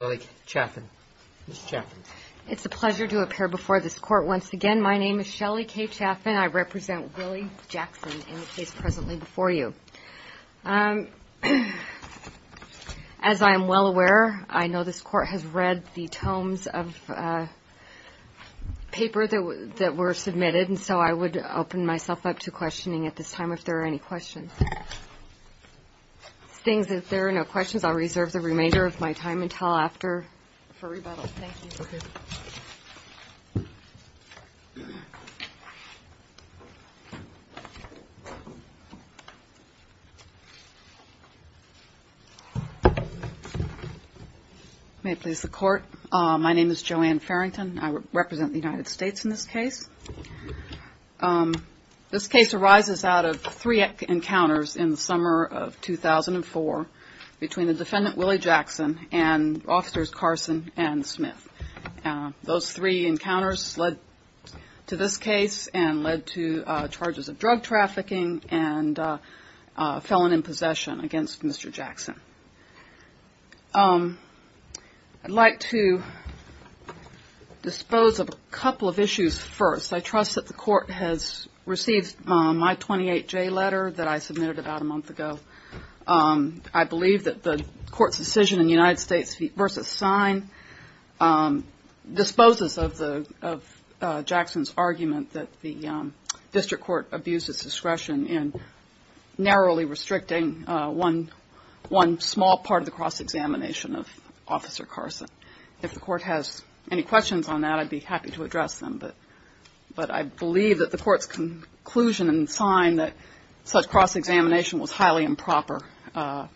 It's a pleasure to appear before this court once again. My name is Shelly Kaye Chaffin. I represent Willie Jackson in the case presently before you. As I am well aware, I know this court has read the tomes of paper that were submitted, and so I would open myself up to questioning at this time if there are any questions. If there are no questions, I'll turn it over to Dr. Furrie-Bettle. Thank you. May it please the Court. My name is Joanne Farrington. I represent the United States in this case. This case arises out of three and Smith. Those three encounters led to this case and led to charges of drug trafficking and felon in possession against Mr. Jackson. I'd like to dispose of a couple of issues first. I trust that the court has received my 28J letter that I submitted about a month ago. I believe that the court's decision in United States v. Sine disposes of Jackson's argument that the district court abuses discretion in narrowly restricting one small part of the cross-examination of Officer Carson. If the court has any questions on that, I'd be happy to address them, but I believe that the court's conclusion in Sine that such cross-examination was highly improper. The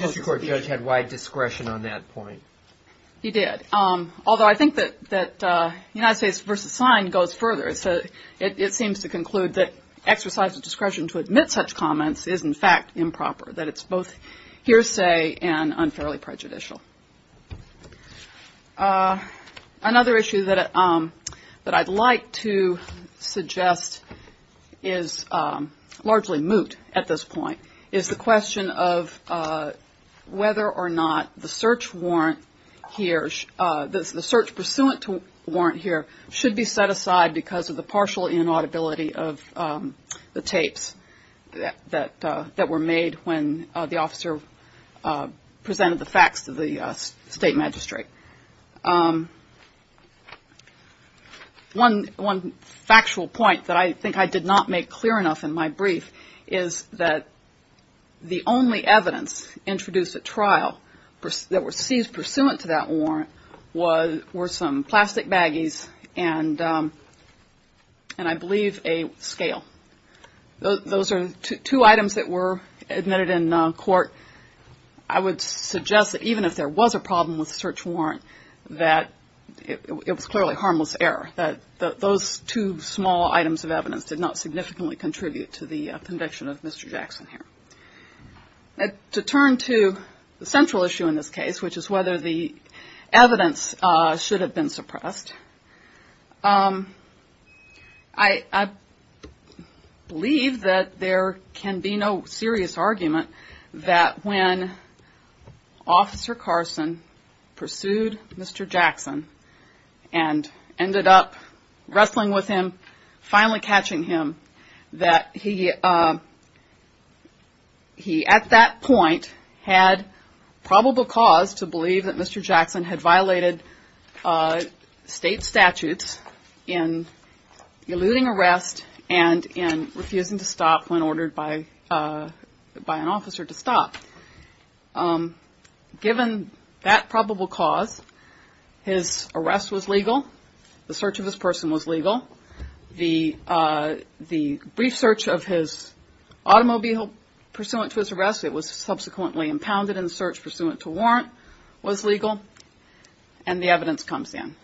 district court judge had wide discretion on that point. He did. Although I think that United States v. Sine goes further. It seems to conclude that exercise of discretion to admit such comments is in fact improper, that it's both hearsay and moot at this point, is the question of whether or not the search warrant here, the search pursuant to warrant here, should be set aside because of the partial inaudibility of the tapes that were made when the officer presented the facts to the State Magistrate. One factual point that I think I did not make clear enough in my brief is that the only evidence introduced at trial that were seized pursuant to that warrant were some plastic baggies and I believe a scale. Those are two items that were admitted in court. I would suggest that even if there was a problem with the search warrant, that it was clearly harmless error, that those two small items of evidence did not significantly contribute to the conviction of Mr. Jackson here. To turn to the central issue in this case, which is whether the evidence should have been suppressed, I believe that there can be no serious argument that when Officer Carson pursued Mr. Jackson and ended up wrestling with him, finally catching him, that he at that point had probable cause to believe that Mr. Jackson had violated state statutes in that probable cause, his arrest was legal, the search of his person was legal, the brief search of his automobile pursuant to his arrest, it was subsequently impounded in the search pursuant to warrant was legal, and the evidence comes in.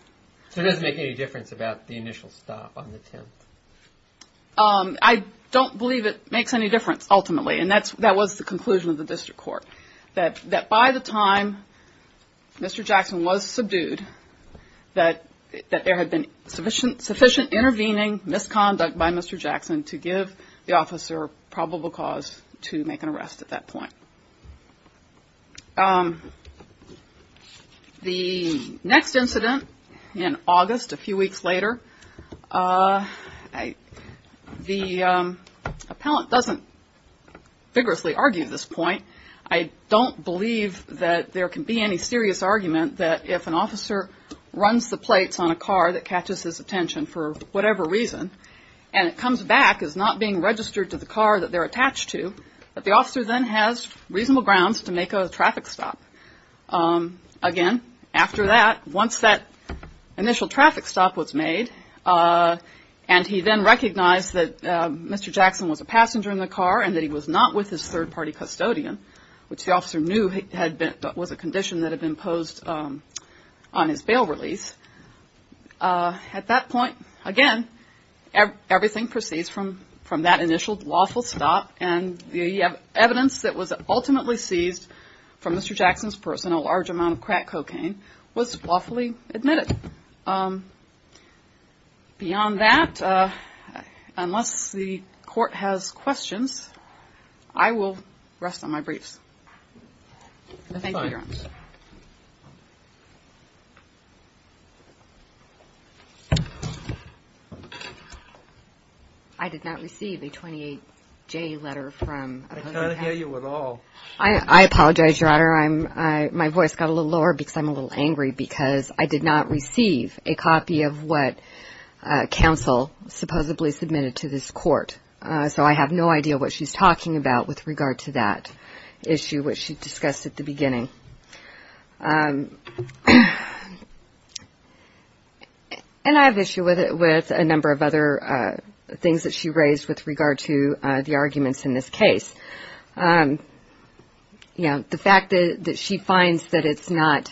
So it doesn't make any difference about the initial stop on the 10th? I don't believe it makes any difference ultimately and that was the conclusion of the district court, that by the time Mr. Jackson was subdued, that there had been sufficient intervening misconduct by Mr. Jackson to give the officer probable cause to make an arrest at that point. The next incident in August, a few weeks later, the appellant doesn't vigorously argue this point. I don't believe that there can be any serious argument that if an officer runs the plates on a car that catches his attention for whatever reason and it comes back as not being registered to the car that they're attached to, that the officer then has reasonable grounds to make a traffic stop. Again, after that, once that initial traffic stop was made and he then recognized that he was his third-party custodian, which the officer knew was a condition that had been posed on his bail release, at that point, again, everything proceeds from that initial lawful stop and the evidence that was ultimately seized from Mr. Jackson's person, a large amount of crack cocaine, was lawfully admitted. Beyond that, unless the Court has questions, I will rest on my briefs. Thank you, Your Honor. That's fine. I did not receive a 28-J letter from another attorney. I can't hear you at all. I apologize, Your Honor. My voice got a little lower because I'm a little angry because I did not receive a copy of what counsel supposedly submitted to this Court, so I have no idea what she's talking about with regard to that issue which she discussed at the beginning. And I have issue with a number of other things that she raised with regard to the arguments in this case. You know, the fact that she finds that it's not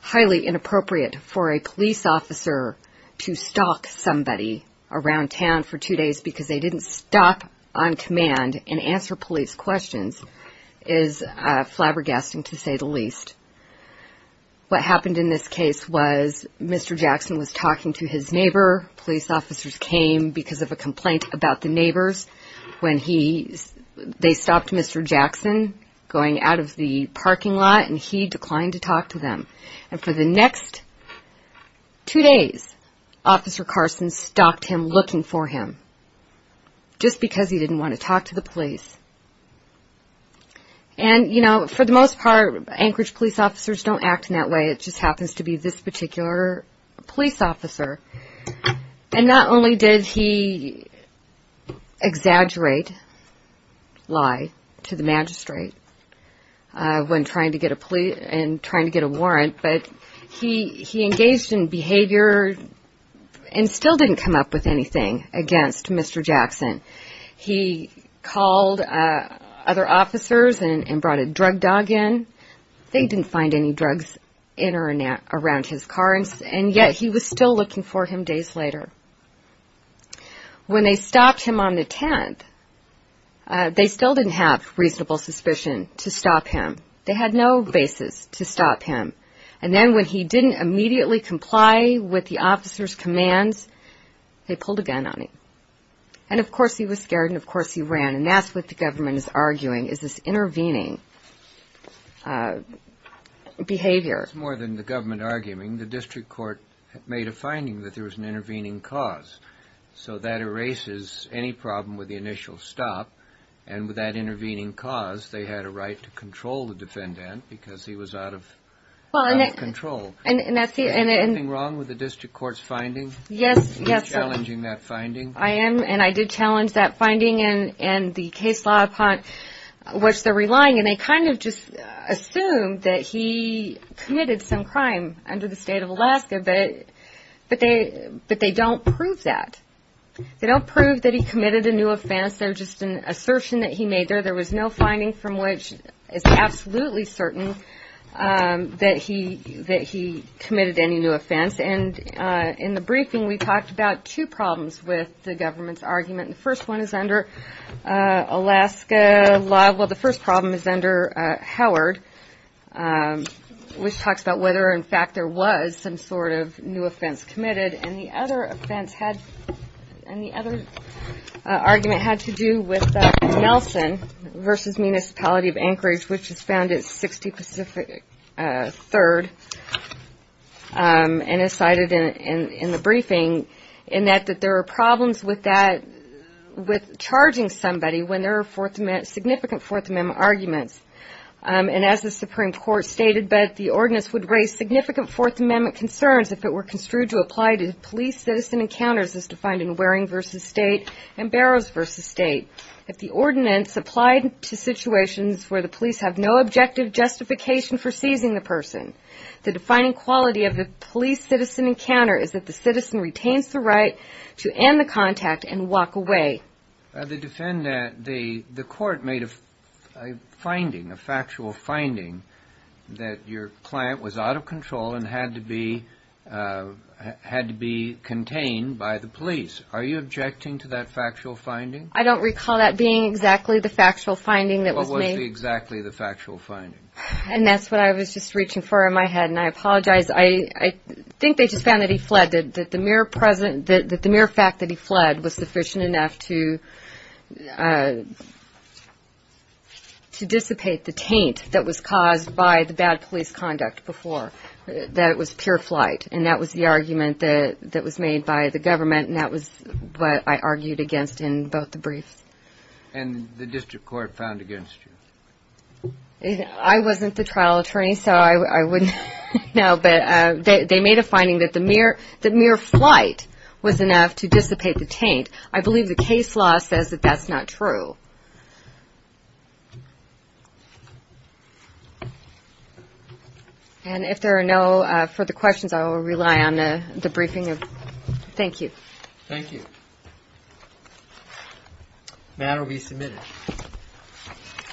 highly inappropriate for a police officer to stalk somebody around town for two days because they didn't stop on command and answer police questions is flabbergasting, to say the least. What happened in this case was Mr. Jackson was talking to his neighbor. Police officers came because of a complaint about the neighbors when they stopped Mr. Jackson going out of the parking lot, and he declined to talk to them. And for the next two days, Officer Carson stopped him looking for him just because he didn't want to talk to the police. And you know, for the most part, Anchorage police officers don't act in that way. It just happens to be this particular police officer. And not only did he exaggerate, lie to the magistrate when trying to get a warrant, but he engaged in behavior and still didn't come up with anything against Mr. Jackson. He called other officers and brought a drug dog in. They didn't find any drugs in or around his car, and yet he was still looking for him days later. When they stopped him on the 10th, they still didn't have reasonable suspicion to stop him. They had no basis to stop him. And then when he didn't immediately comply with the officer's commands, they pulled a gun on him. And of course he was scared, and of course he ran, and that's what the government is doing, is intervening behavior. It's more than the government arguing. The district court made a finding that there was an intervening cause. So that erases any problem with the initial stop. And with that intervening cause, they had a right to control the defendant because he was out of control. Is there something wrong with the district court's finding? Yes. Are you challenging that finding? I am. I am challenging that finding and the case law upon which they're relying, and they kind of just assume that he committed some crime under the state of Alaska, but they don't prove that. They don't prove that he committed a new offense, they're just an assertion that he made there. There was no finding from which it's absolutely certain that he committed any new offense. And in the briefing we talked about two problems with the government's argument. The first one is under Alaska law, well the first problem is under Howard, which talks about whether in fact there was some sort of new offense committed, and the other offense had, and the other argument had to do with Nelson versus Municipality of Anchorage, which has been cited in the briefing, in that there are problems with that, with charging somebody when there are significant Fourth Amendment arguments. And as the Supreme Court stated, but the ordinance would raise significant Fourth Amendment concerns if it were construed to apply to police-citizen encounters as defined in Waring v. State and Barrows v. State. If the ordinance applied to situations where the police have no objective justification for seizing the person, the defining quality of the police-citizen encounter is that the citizen retains the right to end the contact and walk away. The defendant, the court made a finding, a factual finding, that your client was out of control and had to be contained by the police. Are you objecting to that factual finding? I don't recall that being exactly the factual finding that was made. What was exactly the factual finding? And that's what I was just reaching for in my head, and I apologize. I think they just found that he fled, that the mere fact that he fled was sufficient enough to dissipate the taint that was caused by the bad police conduct before, that it was pure flight. And that was the argument that was made by the government, and that was what I argued against in both the briefs. And the district court found against you? I wasn't the trial attorney, so I wouldn't know, but they made a finding that the mere flight was enough to dissipate the taint. I believe the case law says that that's not true. And if there are no further questions, I will rely on the briefing. Thank you. Thank you. The matter will be submitted.